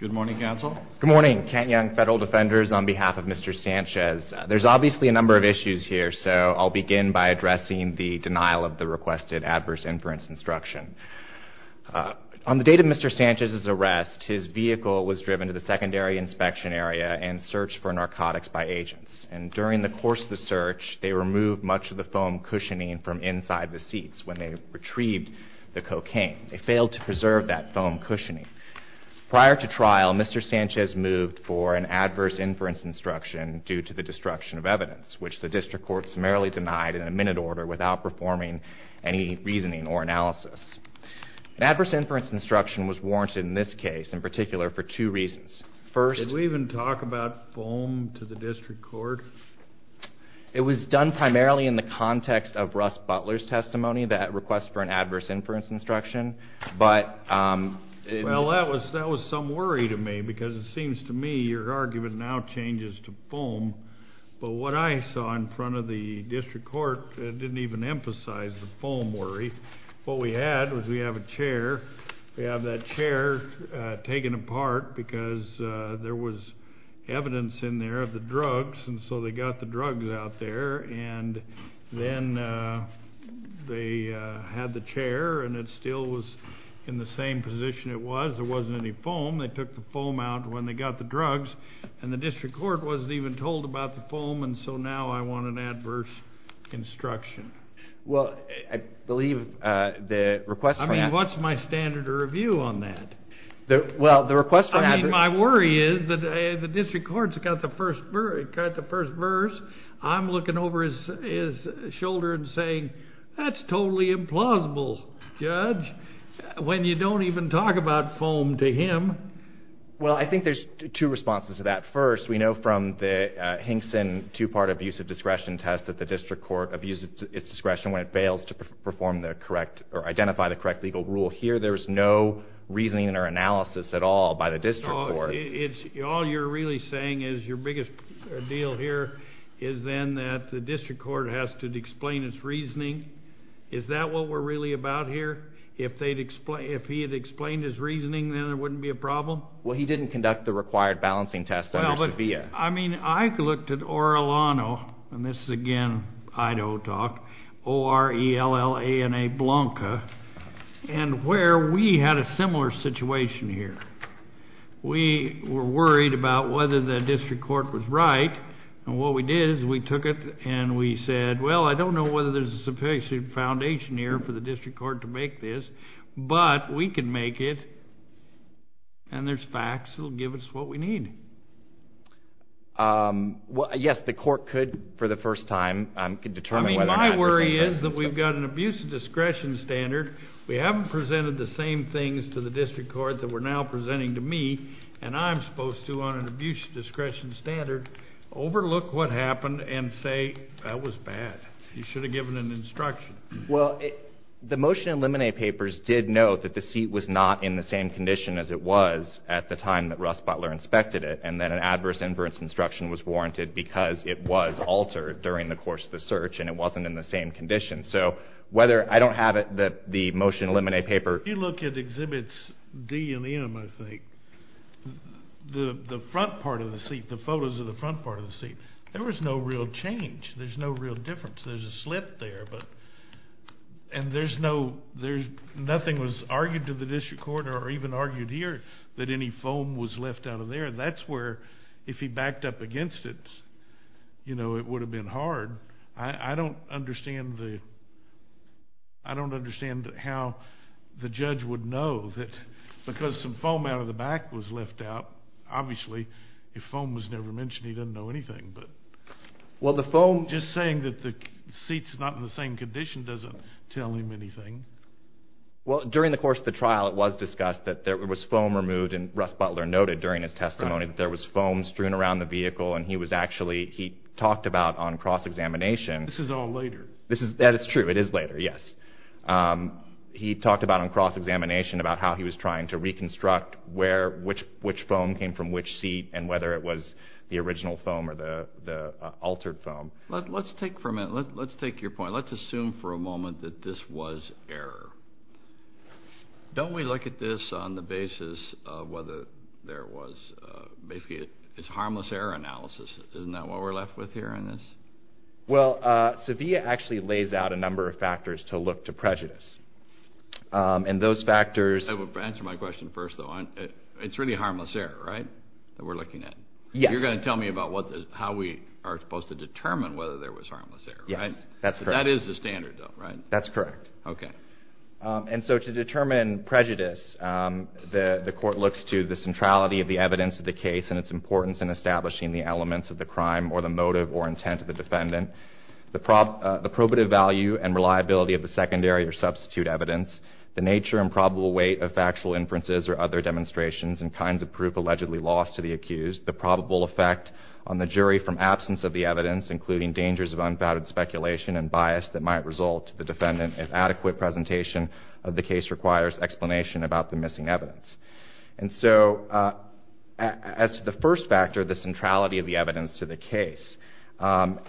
Good morning, counsel. Good morning, Kent Young Federal Defenders. On behalf of Mr. Sanchez, there's obviously a number of issues here, so I'll begin by addressing the denial of the requested adverse inference instruction. On the date of Mr. Sanchez's arrest, his vehicle was driven to the secondary inspection area and searched for narcotics by agents. During the course of the search, they removed much of the foam cushioning from inside the seats when they retrieved the cocaine. They failed to preserve that foam cushioning. Prior to trial, Mr. Sanchez moved for an adverse inference instruction due to the destruction of evidence, which the district court summarily denied in a minute order without performing any reasoning or analysis. An adverse inference instruction was warranted in this case, in particular, for two reasons. First... Did we even talk about foam to the district court? It was done primarily in the context of Russ Butler's testimony, that request for an adverse inference instruction, but... Well, that was some worry to me because it seems to me your argument now changes to foam, but what I saw in front of the district court didn't even emphasize the foam worry. What we had was we have a chair. We have that chair taken apart because there was evidence in there of the drugs, and so they got the drugs out there, and then they had the chair, and it still was in the same position it was. There wasn't any foam. They took the foam out when they got the drugs, and the district court wasn't even told about the foam, and so now I want an adverse instruction. Well, I believe the request for an adverse... I mean, what's my standard of review on that? Well, the request for an adverse... I mean, my worry is that the district court's got the first verse. I'm looking over his shoulder and saying, that's totally implausible, Judge, when you don't even talk about foam to him. Well, I think there's two responses to that. First, we know from the Hinkson two-part abuse of discretion test that the district court abuses its discretion when it fails to perform the correct or identify the correct legal rule. Here there's no reasoning or analysis at all by the district court. All you're really saying is your biggest deal here is then that the district court has to explain its reasoning. Is that what we're really about here? If he had explained his reasoning, then there wouldn't be a problem? Well, he didn't conduct the required balancing test under Sevilla. I mean, I looked at Orellano, and this is, again, Idaho talk, O-R-E-L-L-A-N-A, Blanca, and where we had a similar situation here. We were worried about whether the district court was right, and what we did is we took it and we said, well, I don't know whether there's a sufficient foundation here for the district court to make this, but we can make it, and there's facts that will give us what we need. Yes, the court could, for the first time, determine whether or not it's the same business. My worry is that we've got an abuse of discretion standard. We haven't presented the same things to the district court that we're now presenting to me, and I'm supposed to on an abuse of discretion standard, overlook what happened and say, that was bad. You should have given an instruction. Well, the motion in Lemonnier papers did note that the seat was not in the same condition as it was at the time that Russ Butler inspected it, and that an adverse inference instruction was warranted because it was altered during the course of the search, and it wasn't in the same condition. So whether I don't have it, the motion in Lemonnier paper. If you look at exhibits D and M, I think, the front part of the seat, the photos of the front part of the seat, there was no real change. There's no real difference. There's a slip there, and nothing was argued to the district court or even argued here that any foam was left out of there. That's where if he backed up against it, you know, it would have been hard. I don't understand how the judge would know that because some foam out of the back was left out, obviously, if foam was never mentioned, he doesn't know anything. Just saying that the seat's not in the same condition doesn't tell him anything. Well, during the course of the trial, it was discussed that there was foam removed, and Russ Butler noted during his testimony that there was foam strewn around the vehicle, and he talked about on cross-examination. This is all later. That is true. It is later, yes. He talked about on cross-examination about how he was trying to reconstruct which foam came from which seat and whether it was the original foam or the altered foam. Let's take your point. Let's assume for a moment that this was error. Don't we look at this on the basis of whether there was basically a harmless error analysis? Isn't that what we're left with here in this? Well, SEVIA actually lays out a number of factors to look to prejudice, and those factors— Answer my question first, though. It's really harmless error, right, that we're looking at? Yes. You're going to tell me about how we are supposed to determine whether there was harmless error, right? Yes, that's correct. That is the standard, though, right? That's correct. Okay. And so to determine prejudice, the court looks to the centrality of the evidence of the case and its importance in establishing the elements of the crime or the motive or intent of the defendant, the probative value and reliability of the secondary or substitute evidence, the nature and probable weight of factual inferences or other demonstrations and kinds of proof allegedly lost to the accused, the probable effect on the jury from absence of the evidence, including dangers of unfounded speculation and bias that might result to the defendant if adequate presentation of the case requires explanation about the missing evidence. And so as to the first factor, the centrality of the evidence to the case, and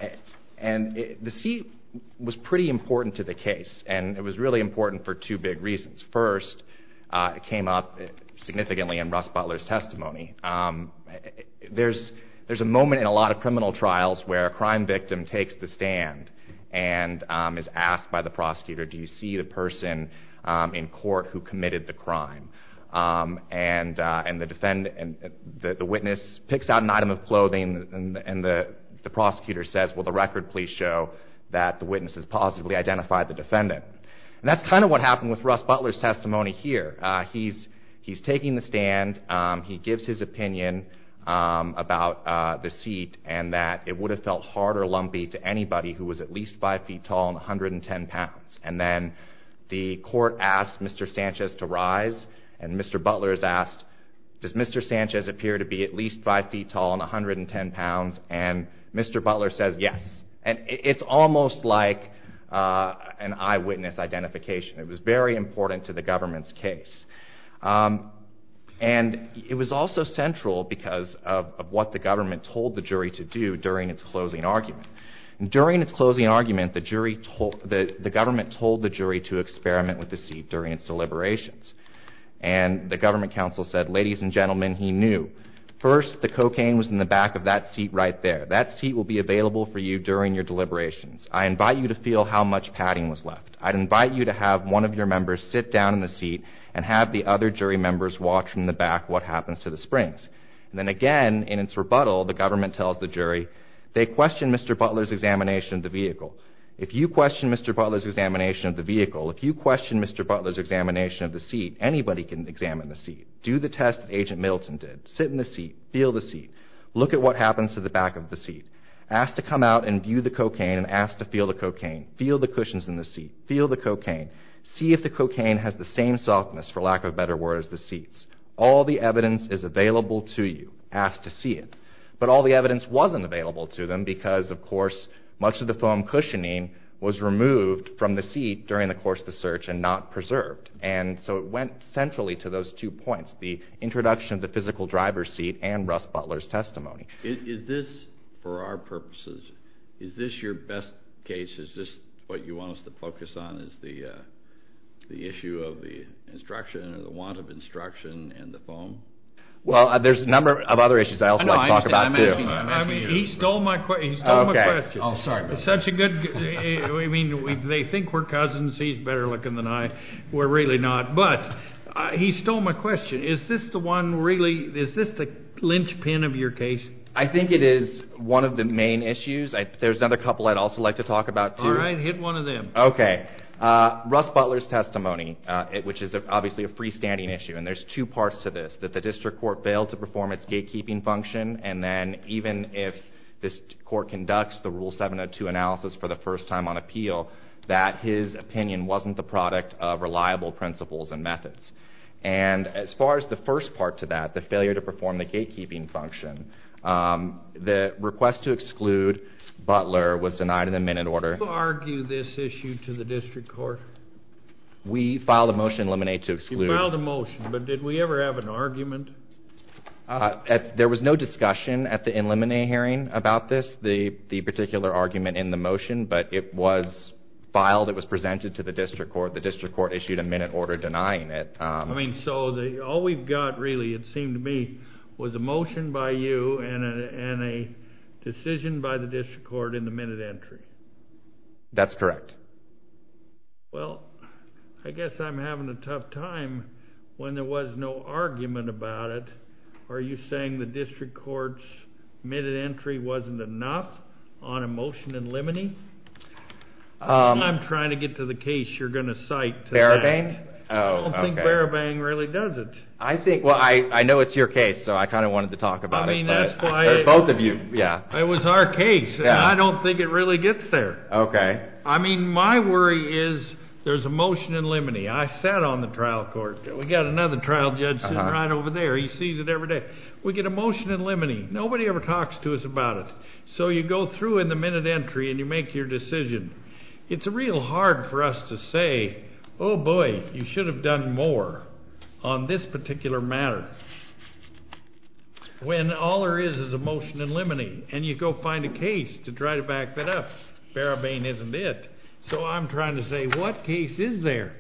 the seat was pretty important to the case, and it was really important for two big reasons. First, it came up significantly in Russ Butler's testimony. There's a moment in a lot of criminal trials where a crime victim takes the stand and is asked by the prosecutor, do you see the person in court who committed the crime? And the witness picks out an item of clothing and the prosecutor says, will the record please show that the witness has positively identified the defendant. And that's kind of what happened with Russ Butler's testimony here. He's taking the stand, he gives his opinion about the seat and that it would have felt hard or lumpy to anybody who was at least 5 feet tall and 110 pounds. And then the court asked Mr. Sanchez to rise and Mr. Butler is asked, does Mr. Sanchez appear to be at least 5 feet tall and 110 pounds? And Mr. Butler says yes. And it's almost like an eyewitness identification. It was very important to the government's case. And it was also central because of what the government told the jury to do during its closing argument. During its closing argument, the government told the jury to experiment with the seat during its deliberations. And the government counsel said, ladies and gentlemen, he knew. First, the cocaine was in the back of that seat right there. That seat will be available for you during your deliberations. I invite you to feel how much padding was left. I'd invite you to have one of your members sit down in the seat and have the other jury members watch from the back what happens to the springs. And then again, in its rebuttal, the government tells the jury, they question Mr. Butler's examination of the vehicle. If you question Mr. Butler's examination of the vehicle, if you question Mr. Butler's examination of the seat, anybody can examine the seat. Do the test that Agent Middleton did. Sit in the seat. Feel the seat. Look at what happens to the back of the seat. Ask to come out and view the cocaine and ask to feel the cocaine. Feel the cushions in the seat. Feel the cocaine. See if the cocaine has the same softness, for lack of a better word, as the seat's. All the evidence is available to you. Ask to see it. But all the evidence wasn't available to them because, of course, much of the foam cushioning was removed from the seat during the course of the search and not preserved. And so it went centrally to those two points, the introduction of the physical driver's seat and Russ Butler's testimony. Is this, for our purposes, is this your best case? Is this what you want us to focus on, is the issue of the instruction or the want of instruction and the foam? Well, there's a number of other issues I also want to talk about, too. I mean, he stole my question. He stole my question. Oh, sorry. Such a good, I mean, they think we're cousins. We're really not. But he stole my question. Is this the one really, is this the linchpin of your case? I think it is one of the main issues. There's another couple I'd also like to talk about, too. All right, hit one of them. Okay. Russ Butler's testimony, which is obviously a freestanding issue, and there's two parts to this, that the district court failed to perform its gatekeeping function, and then even if this court conducts the Rule 702 analysis for the first time on appeal, that his opinion wasn't the product of reliable principles and methods. And as far as the first part to that, the failure to perform the gatekeeping function, the request to exclude Butler was denied in a minute order. Who argued this issue to the district court? We filed a motion in Lemonnier to exclude. You filed a motion, but did we ever have an argument? There was no discussion at the in Lemonnier hearing about this, the particular argument in the motion, but it was filed, it was presented to the district court, the district court issued a minute order denying it. I mean, so all we've got really, it seemed to me, was a motion by you and a decision by the district court in the minute entry. That's correct. Well, I guess I'm having a tough time when there was no argument about it. Are you saying the district court's minute entry wasn't enough on a motion in Lemonnier? I'm trying to get to the case you're going to cite. Barabang? I don't think Barabang really does it. I think, well, I know it's your case, so I kind of wanted to talk about it. I mean, that's why. Both of you, yeah. It was our case, and I don't think it really gets there. Okay. I mean, my worry is there's a motion in Lemonnier. I sat on the trial court. We've got another trial judge sitting right over there. He sees it every day. We get a motion in Lemonnier. Nobody ever talks to us about it. So you go through in the minute entry, and you make your decision. It's real hard for us to say, oh, boy, you should have done more on this particular matter. When all there is is a motion in Lemonnier, and you go find a case to try to back that up. Barabang isn't it. So I'm trying to say, what case is there?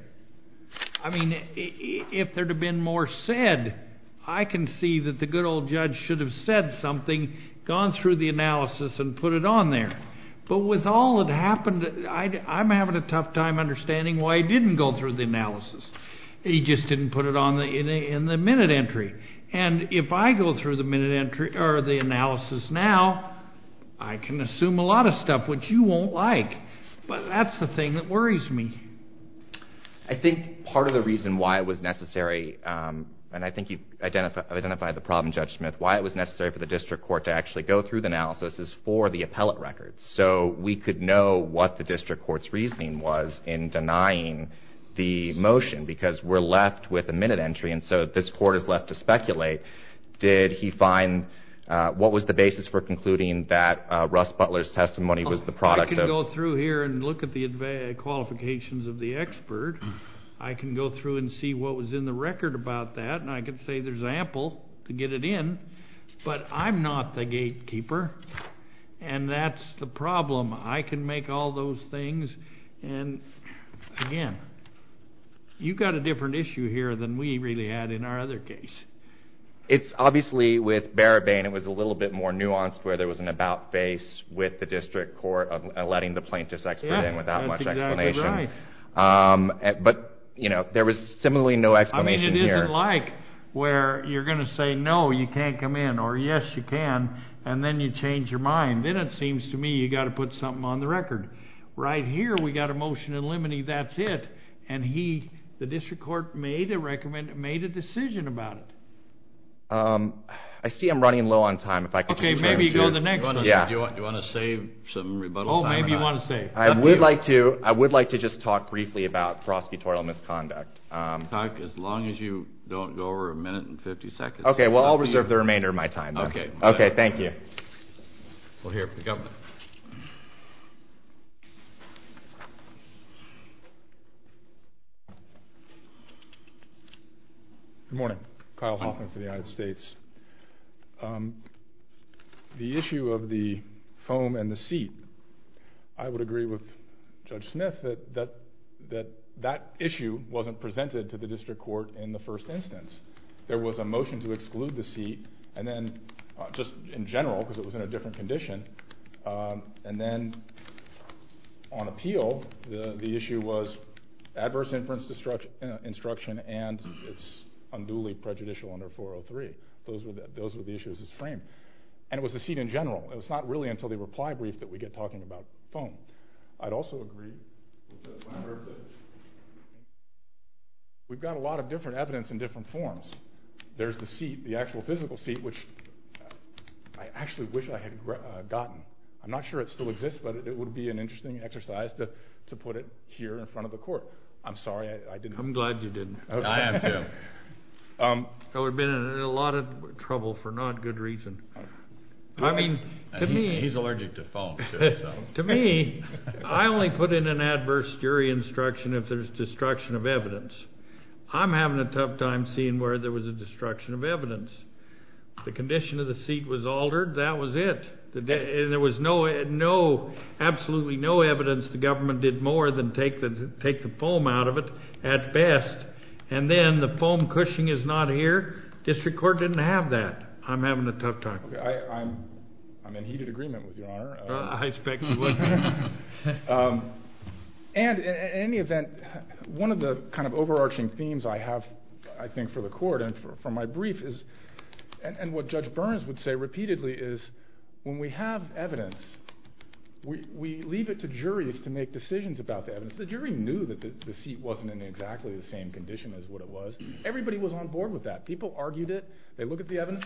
I mean, if there had been more said, I can see that the good old judge should have said something, gone through the analysis, and put it on there. But with all that happened, I'm having a tough time understanding why he didn't go through the analysis. He just didn't put it on in the minute entry. And if I go through the minute entry or the analysis now, I can assume a lot of stuff, which you won't like. But that's the thing that worries me. I think part of the reason why it was necessary, and I think you've identified the problem, Judge Smith, why it was necessary for the district court to actually go through the analysis is for the appellate records. So we could know what the district court's reasoning was in denying the motion, because we're left with a minute entry, and so this court is left to speculate. Did he find, what was the basis for concluding that Russ Butler's testimony was the product of? I can go through here and look at the qualifications of the expert. I can go through and see what was in the record about that. And I can say there's ample to get it in, but I'm not the gatekeeper, and that's the problem. I can make all those things. And, again, you've got a different issue here than we really had in our other case. It's obviously with Barabane, it was a little bit more nuanced where there was an about face with the district court of letting the plaintiff's expert in without much explanation. Yeah, that's exactly right. But, you know, there was similarly no explanation here. It wasn't like where you're going to say no, you can't come in, or yes, you can, and then you change your mind. Then it seems to me you've got to put something on the record. Right here we've got a motion eliminating that's it, and he, the district court, made a decision about it. I see I'm running low on time. Okay, maybe you go to the next one. Do you want to save some rebuttal time? Oh, maybe you want to save. I would like to just talk briefly about prosecutorial misconduct. As long as you don't go over a minute and 50 seconds. Okay, well, I'll reserve the remainder of my time. Okay. Okay, thank you. We'll hear from the governor. Good morning. Kyle Hoffman for the United States. The issue of the foam and the seat, I would agree with Judge Smith that that issue wasn't presented to the district court in the first instance. There was a motion to exclude the seat, and then just in general, because it was in a different condition, and then on appeal the issue was adverse inference instruction and its unduly prejudicial under 403. Those were the issues that were framed. And it was the seat in general. It was not really until the reply brief that we get talking about foam. I'd also agree, we've got a lot of different evidence in different forms. There's the seat, the actual physical seat, which I actually wish I had gotten. I'm not sure it still exists, but it would be an interesting exercise to put it here in front of the court. I'm sorry I didn't. I'm glad you didn't. I am, too. I would have been in a lot of trouble for not good reason. I mean, to me... He's allergic to foam, too. To me, I only put in an adverse jury instruction if there's destruction of evidence. I'm having a tough time seeing where there was a destruction of evidence. The condition of the seat was altered. That was it. And there was no, absolutely no evidence the government did more than take the foam out of it at best. And then the foam cushioning is not here. District Court didn't have that. I'm having a tough time. I'm in heated agreement with Your Honor. I expect you would. And in any event, one of the kind of overarching themes I have, I think, for the court and for my brief is, and what Judge Burns would say repeatedly, is when we have evidence, we leave it to juries to make decisions about the evidence. Since the jury knew that the seat wasn't in exactly the same condition as what it was, everybody was on board with that. People argued it. They looked at the evidence.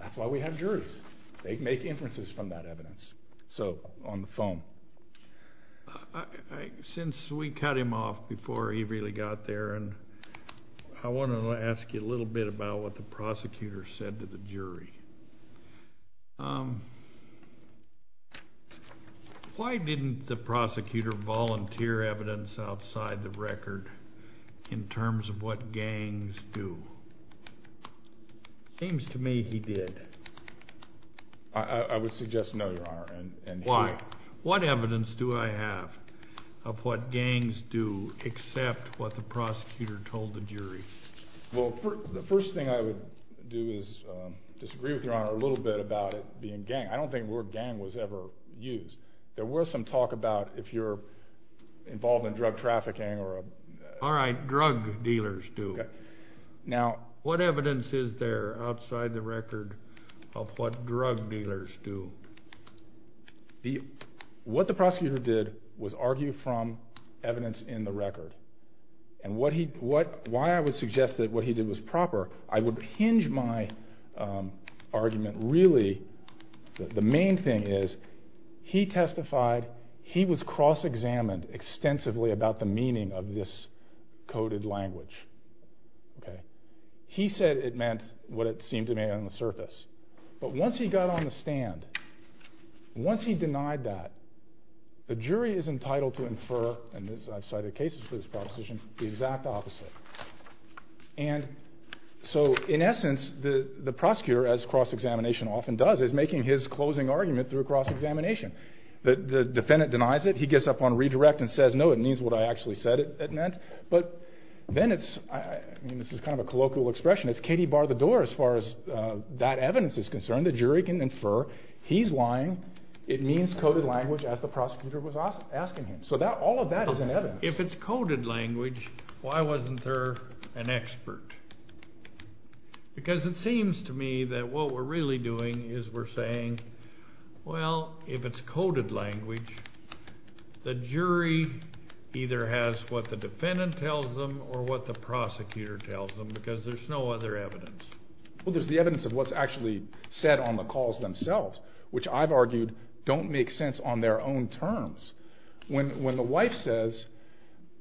That's why we have juries. They make inferences from that evidence. So, on the foam. Since we cut him off before he really got there, I want to ask you a little bit about what the prosecutor said to the jury. Why didn't the prosecutor volunteer evidence outside the record in terms of what gangs do? It seems to me he did. I would suggest no, Your Honor. Why? What evidence do I have of what gangs do except what the prosecutor told the jury? Well, the first thing I would do is disagree with Your Honor a little bit about it being gang. I don't think the word gang was ever used. There was some talk about if you're involved in drug trafficking. All right, drug dealers do. What evidence is there outside the record of what drug dealers do? And why I would suggest that what he did was proper, I would hinge my argument really. The main thing is he testified. He was cross-examined extensively about the meaning of this coded language. He said it meant what it seemed to me on the surface. But once he got on the stand, once he denied that, the jury is entitled to infer, and I've cited cases for this proposition, the exact opposite. And so, in essence, the prosecutor, as cross-examination often does, is making his closing argument through cross-examination. The defendant denies it. He gets up on redirect and says, no, it means what I actually said it meant. But then it's, I mean, this is kind of a colloquial expression, it's Katie bar the door as far as that evidence is concerned. The jury can infer he's lying. It means coded language, as the prosecutor was asking him. So all of that is in evidence. If it's coded language, why wasn't there an expert? Because it seems to me that what we're really doing is we're saying, well, if it's coded language, the jury either has what the defendant tells them or what the prosecutor tells them, because there's no other evidence. Well, there's the evidence of what's actually said on the calls themselves, which I've argued don't make sense on their own terms. When the wife says,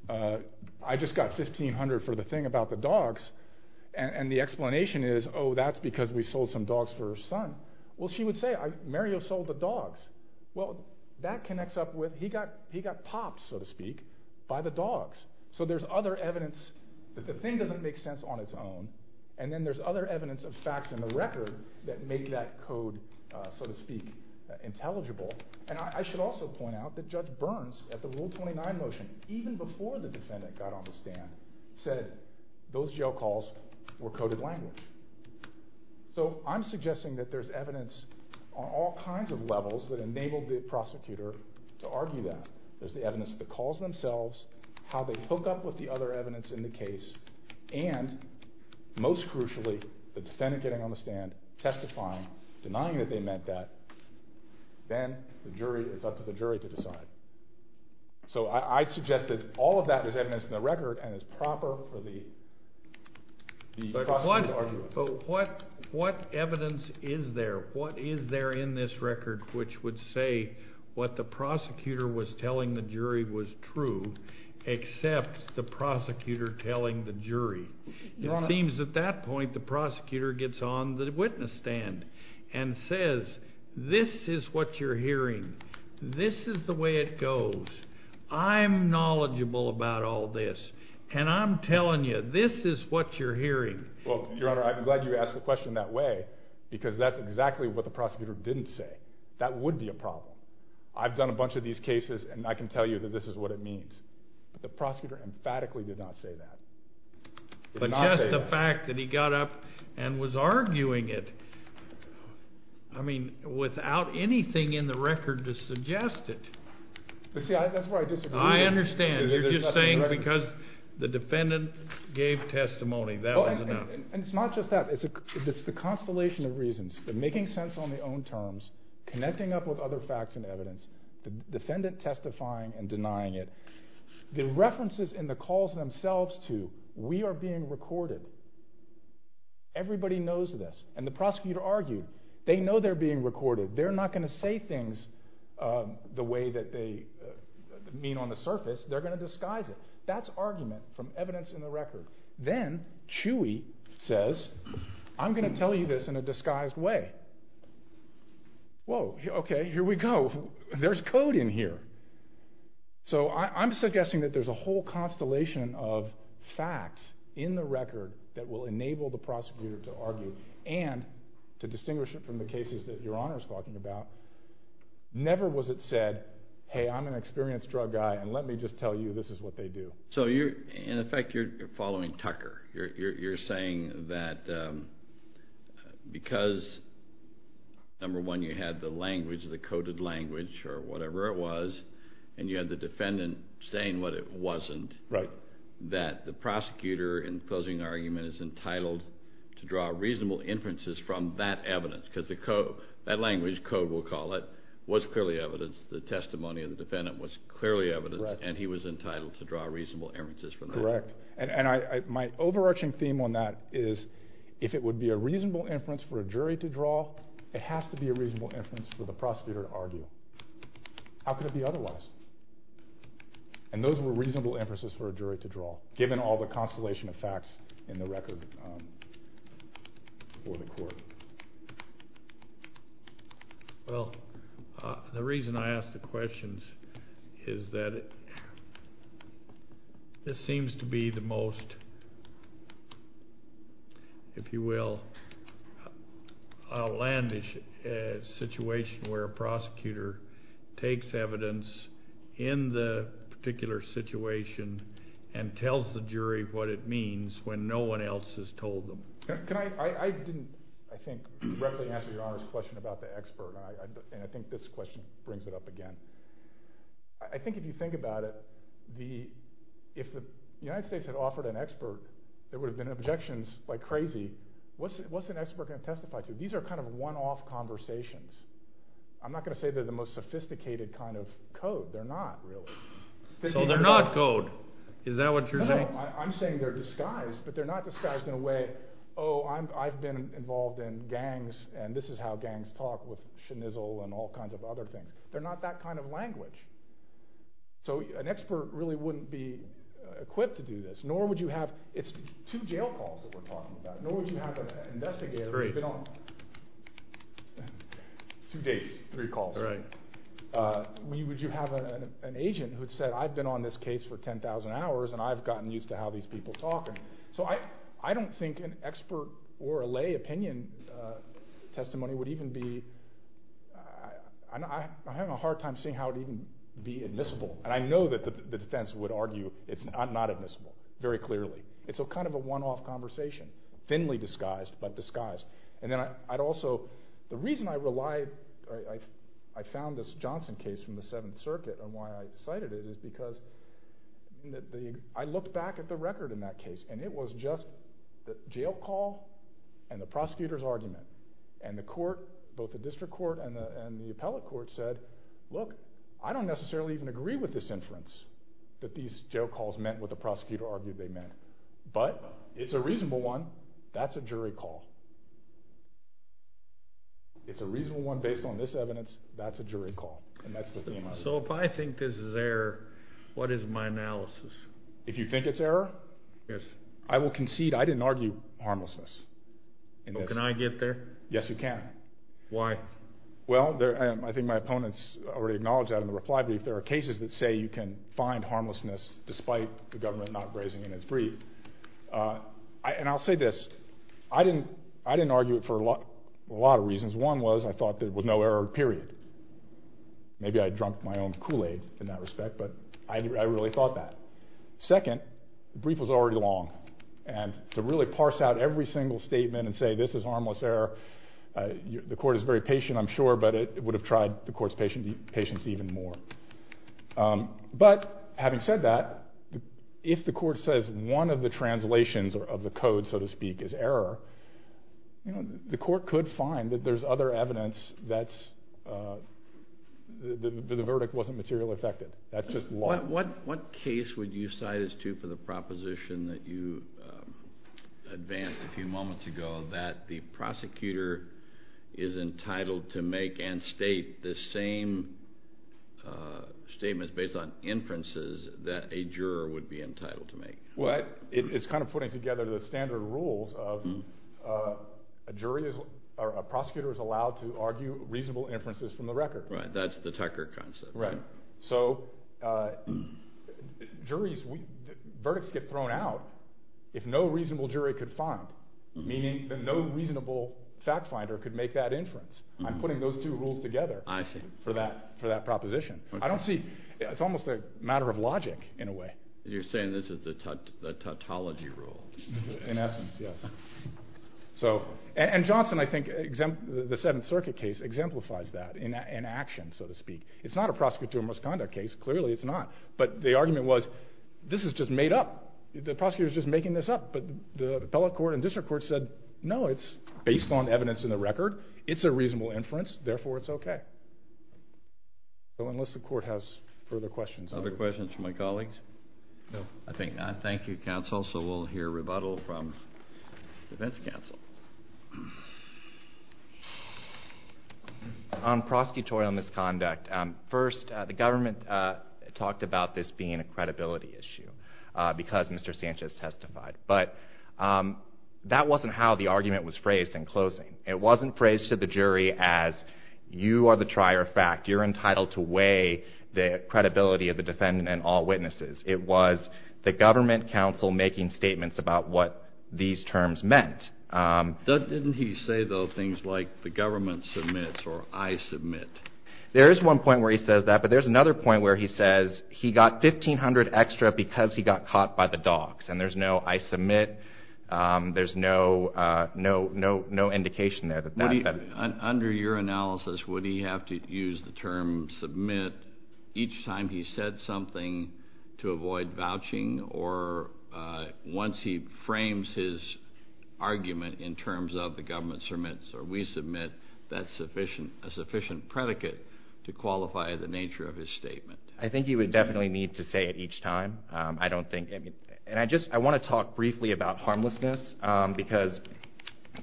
I just got $1,500 for the thing about the dogs, and the explanation is, oh, that's because we sold some dogs for her son. Well, she would say, Mario sold the dogs. Well, that connects up with he got popped, so to speak, by the dogs. So there's other evidence that the thing doesn't make sense on its own, and then there's other evidence of facts in the record that make that code, so to speak, intelligible. And I should also point out that Judge Burns, at the Rule 29 motion, even before the defendant got on the stand, said those jail calls were coded language. So I'm suggesting that there's evidence on all kinds of levels that enabled the prosecutor to argue that. There's the evidence of the calls themselves, how they hook up with the other evidence in the case, and most crucially, the defendant getting on the stand, testifying, denying that they meant that. Then it's up to the jury to decide. So I suggest that all of that is evidence in the record and is proper for the prosecutor to argue on. But what evidence is there? What is there in this record which would say what the prosecutor was telling the jury was true, except the prosecutor telling the jury? It seems at that point the prosecutor gets on the witness stand and says, this is what you're hearing. This is the way it goes. I'm knowledgeable about all this, and I'm telling you, this is what you're hearing. Well, Your Honor, I'm glad you asked the question that way, because that's exactly what the prosecutor didn't say. That would be a problem. I've done a bunch of these cases, and I can tell you that this is what it means. But the prosecutor emphatically did not say that. But just the fact that he got up and was arguing it, I mean, without anything in the record to suggest it. See, that's where I disagree. I understand. You're just saying because the defendant gave testimony, that was enough. And it's not just that. It's the constellation of reasons, the making sense on their own terms, connecting up with other facts and evidence, the defendant testifying and denying it. The references in the calls themselves to, we are being recorded, everybody knows this. And the prosecutor argued, they know they're being recorded. They're not going to say things the way that they mean on the surface. They're going to disguise it. That's argument from evidence in the record. Then Chewy says, I'm going to tell you this in a disguised way. Whoa, okay, here we go. There's code in here. So I'm suggesting that there's a whole constellation of facts in the record that will enable the prosecutor to argue. And to distinguish it from the cases that Your Honor is talking about, never was it said, hey, I'm an experienced drug guy and let me just tell you this is what they do. So you're, in effect, you're following Tucker. You're saying that because, number one, you had the language, the coded language or whatever it was, and you had the defendant saying what it wasn't. Right. That the prosecutor in the closing argument is entitled to draw reasonable inferences from that evidence. Because that language, code we'll call it, was clearly evidence. The testimony of the defendant was clearly evidence. Right. And he was entitled to draw reasonable inferences from that. Correct. And my overarching theme on that is if it would be a reasonable inference for a jury to draw, it has to be a reasonable inference for the prosecutor to argue. How could it be otherwise? And those were reasonable inferences for a jury to draw, given all the constellation of facts in the record for the court. Well, the reason I ask the questions is that this seems to be the most, if you will, outlandish situation where a prosecutor takes evidence in the particular situation and tells the jury what it means when no one else has told them. Can I – I didn't, I think, correctly answer Your Honor's question about the expert, and I think this question brings it up again. I think if you think about it, if the United States had offered an expert, there would have been objections like crazy. What's an expert going to testify to? These are kind of one-off conversations. I'm not going to say they're the most sophisticated kind of code. They're not, really. So they're not code. Is that what you're saying? No, I'm saying they're disguised, but they're not disguised in a way, oh, I've been involved in gangs, and this is how gangs talk, with schnizzle and all kinds of other things. They're not that kind of language. So an expert really wouldn't be equipped to do this. Nor would you have – it's two jail calls that we're talking about. Nor would you have an investigator who's been on – two days, three calls. Would you have an agent who said, I've been on this case for 10,000 hours, and I've gotten used to how these people talk. So I don't think an expert or a lay opinion testimony would even be – I'm having a hard time seeing how it would even be admissible. And I know that the defense would argue it's not admissible, very clearly. It's kind of a one-off conversation, thinly disguised, but disguised. And then I'd also – the reason I relied – I found this Johnson case from the Seventh Circuit and why I cited it is because I looked back at the record in that case. And it was just the jail call and the prosecutor's argument. And the court, both the district court and the appellate court, said, look, I don't necessarily even agree with this inference that these jail calls meant what the prosecutor argued they meant. But it's a reasonable one. That's a jury call. It's a reasonable one based on this evidence. That's a jury call. And that's the theme of it. So if I think this is error, what is my analysis? If you think it's error? Yes. I will concede I didn't argue harmlessness. Can I get there? Yes, you can. Why? Well, I think my opponents already acknowledged that in the reply brief. There are cases that say you can find harmlessness despite the government not raising it in its brief. And I'll say this. I didn't argue it for a lot of reasons. One was I thought there was no error, period. Maybe I had drunk my own Kool-Aid in that respect, but I really thought that. Second, the brief was already long. And to really parse out every single statement and say this is harmless error, the court is very patient, I'm sure, but it would have tried the court's patience even more. But having said that, if the court says one of the translations of the code, so to speak, is error, the court could find that there's other evidence that the verdict wasn't materially affected. That's just law. What case would you cite us to for the proposition that you advanced a few moments ago that the prosecutor is entitled to make and state the same statements based on inferences that a juror would be entitled to make? Well, it's kind of putting together the standard rules of a jury is or a prosecutor is allowed to argue reasonable inferences from the record. Right, that's the Tucker concept. Right. So verdicts get thrown out if no reasonable jury could find, meaning that no reasonable fact finder could make that inference. I'm putting those two rules together for that proposition. It's almost a matter of logic, in a way. You're saying this is the tautology rule. In essence, yes. And Johnson, I think, the Seventh Circuit case, exemplifies that in action, so to speak. It's not a prosecutorial misconduct case. Clearly, it's not. But the argument was, this is just made up. The prosecutor is just making this up. But the appellate court and district court said, no, it's based on evidence in the record. It's a reasonable inference. Therefore, it's okay. So unless the court has further questions. Other questions from my colleagues? No. I think not. Thank you, counsel. So we'll hear rebuttal from defense counsel. On prosecutorial misconduct. First, the government talked about this being a credibility issue, because Mr. Sanchez testified. But that wasn't how the argument was phrased in closing. It wasn't phrased to the jury as, you are the trier of fact. You're entitled to weigh the credibility of the defendant and all witnesses. It was the government counsel making statements about what these terms meant. Didn't he say, though, things like the government submits or I submit? There is one point where he says that. But there's another point where he says he got $1,500 extra because he got caught by the docs. And there's no I submit. There's no indication there. Under your analysis, would he have to use the term submit each time he said something to avoid vouching? Or once he frames his argument in terms of the government submits or we submit, that's a sufficient predicate to qualify the nature of his statement? I think he would definitely need to say it each time. I want to talk briefly about harmlessness because,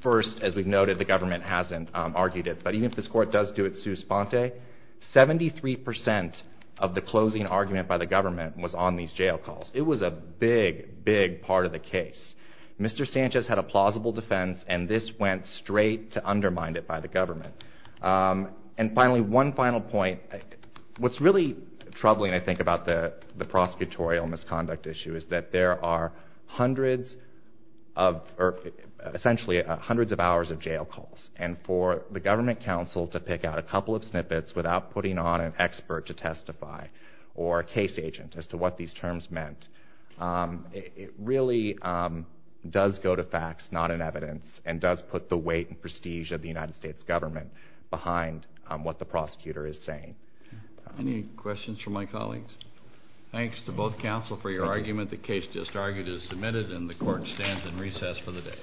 first, as we've noted, the government hasn't argued it. But even if this court does do it sous sponte, 73% of the closing argument by the government was on these jail calls. It was a big, big part of the case. Mr. Sanchez had a plausible defense, and this went straight to undermine it by the government. And finally, one final point. What's really troubling, I think, about the prosecutorial misconduct issue is that there are hundreds of, or essentially hundreds of hours of jail calls. And for the government counsel to pick out a couple of snippets without putting on an expert to testify or a case agent as to what these terms meant, it really does go to facts, not in evidence, and does put the weight and prestige of the United States government behind what the prosecutor is saying. Any questions from my colleagues? Thanks to both counsel for your argument. The case just argued is submitted, and the court stands in recess for the day.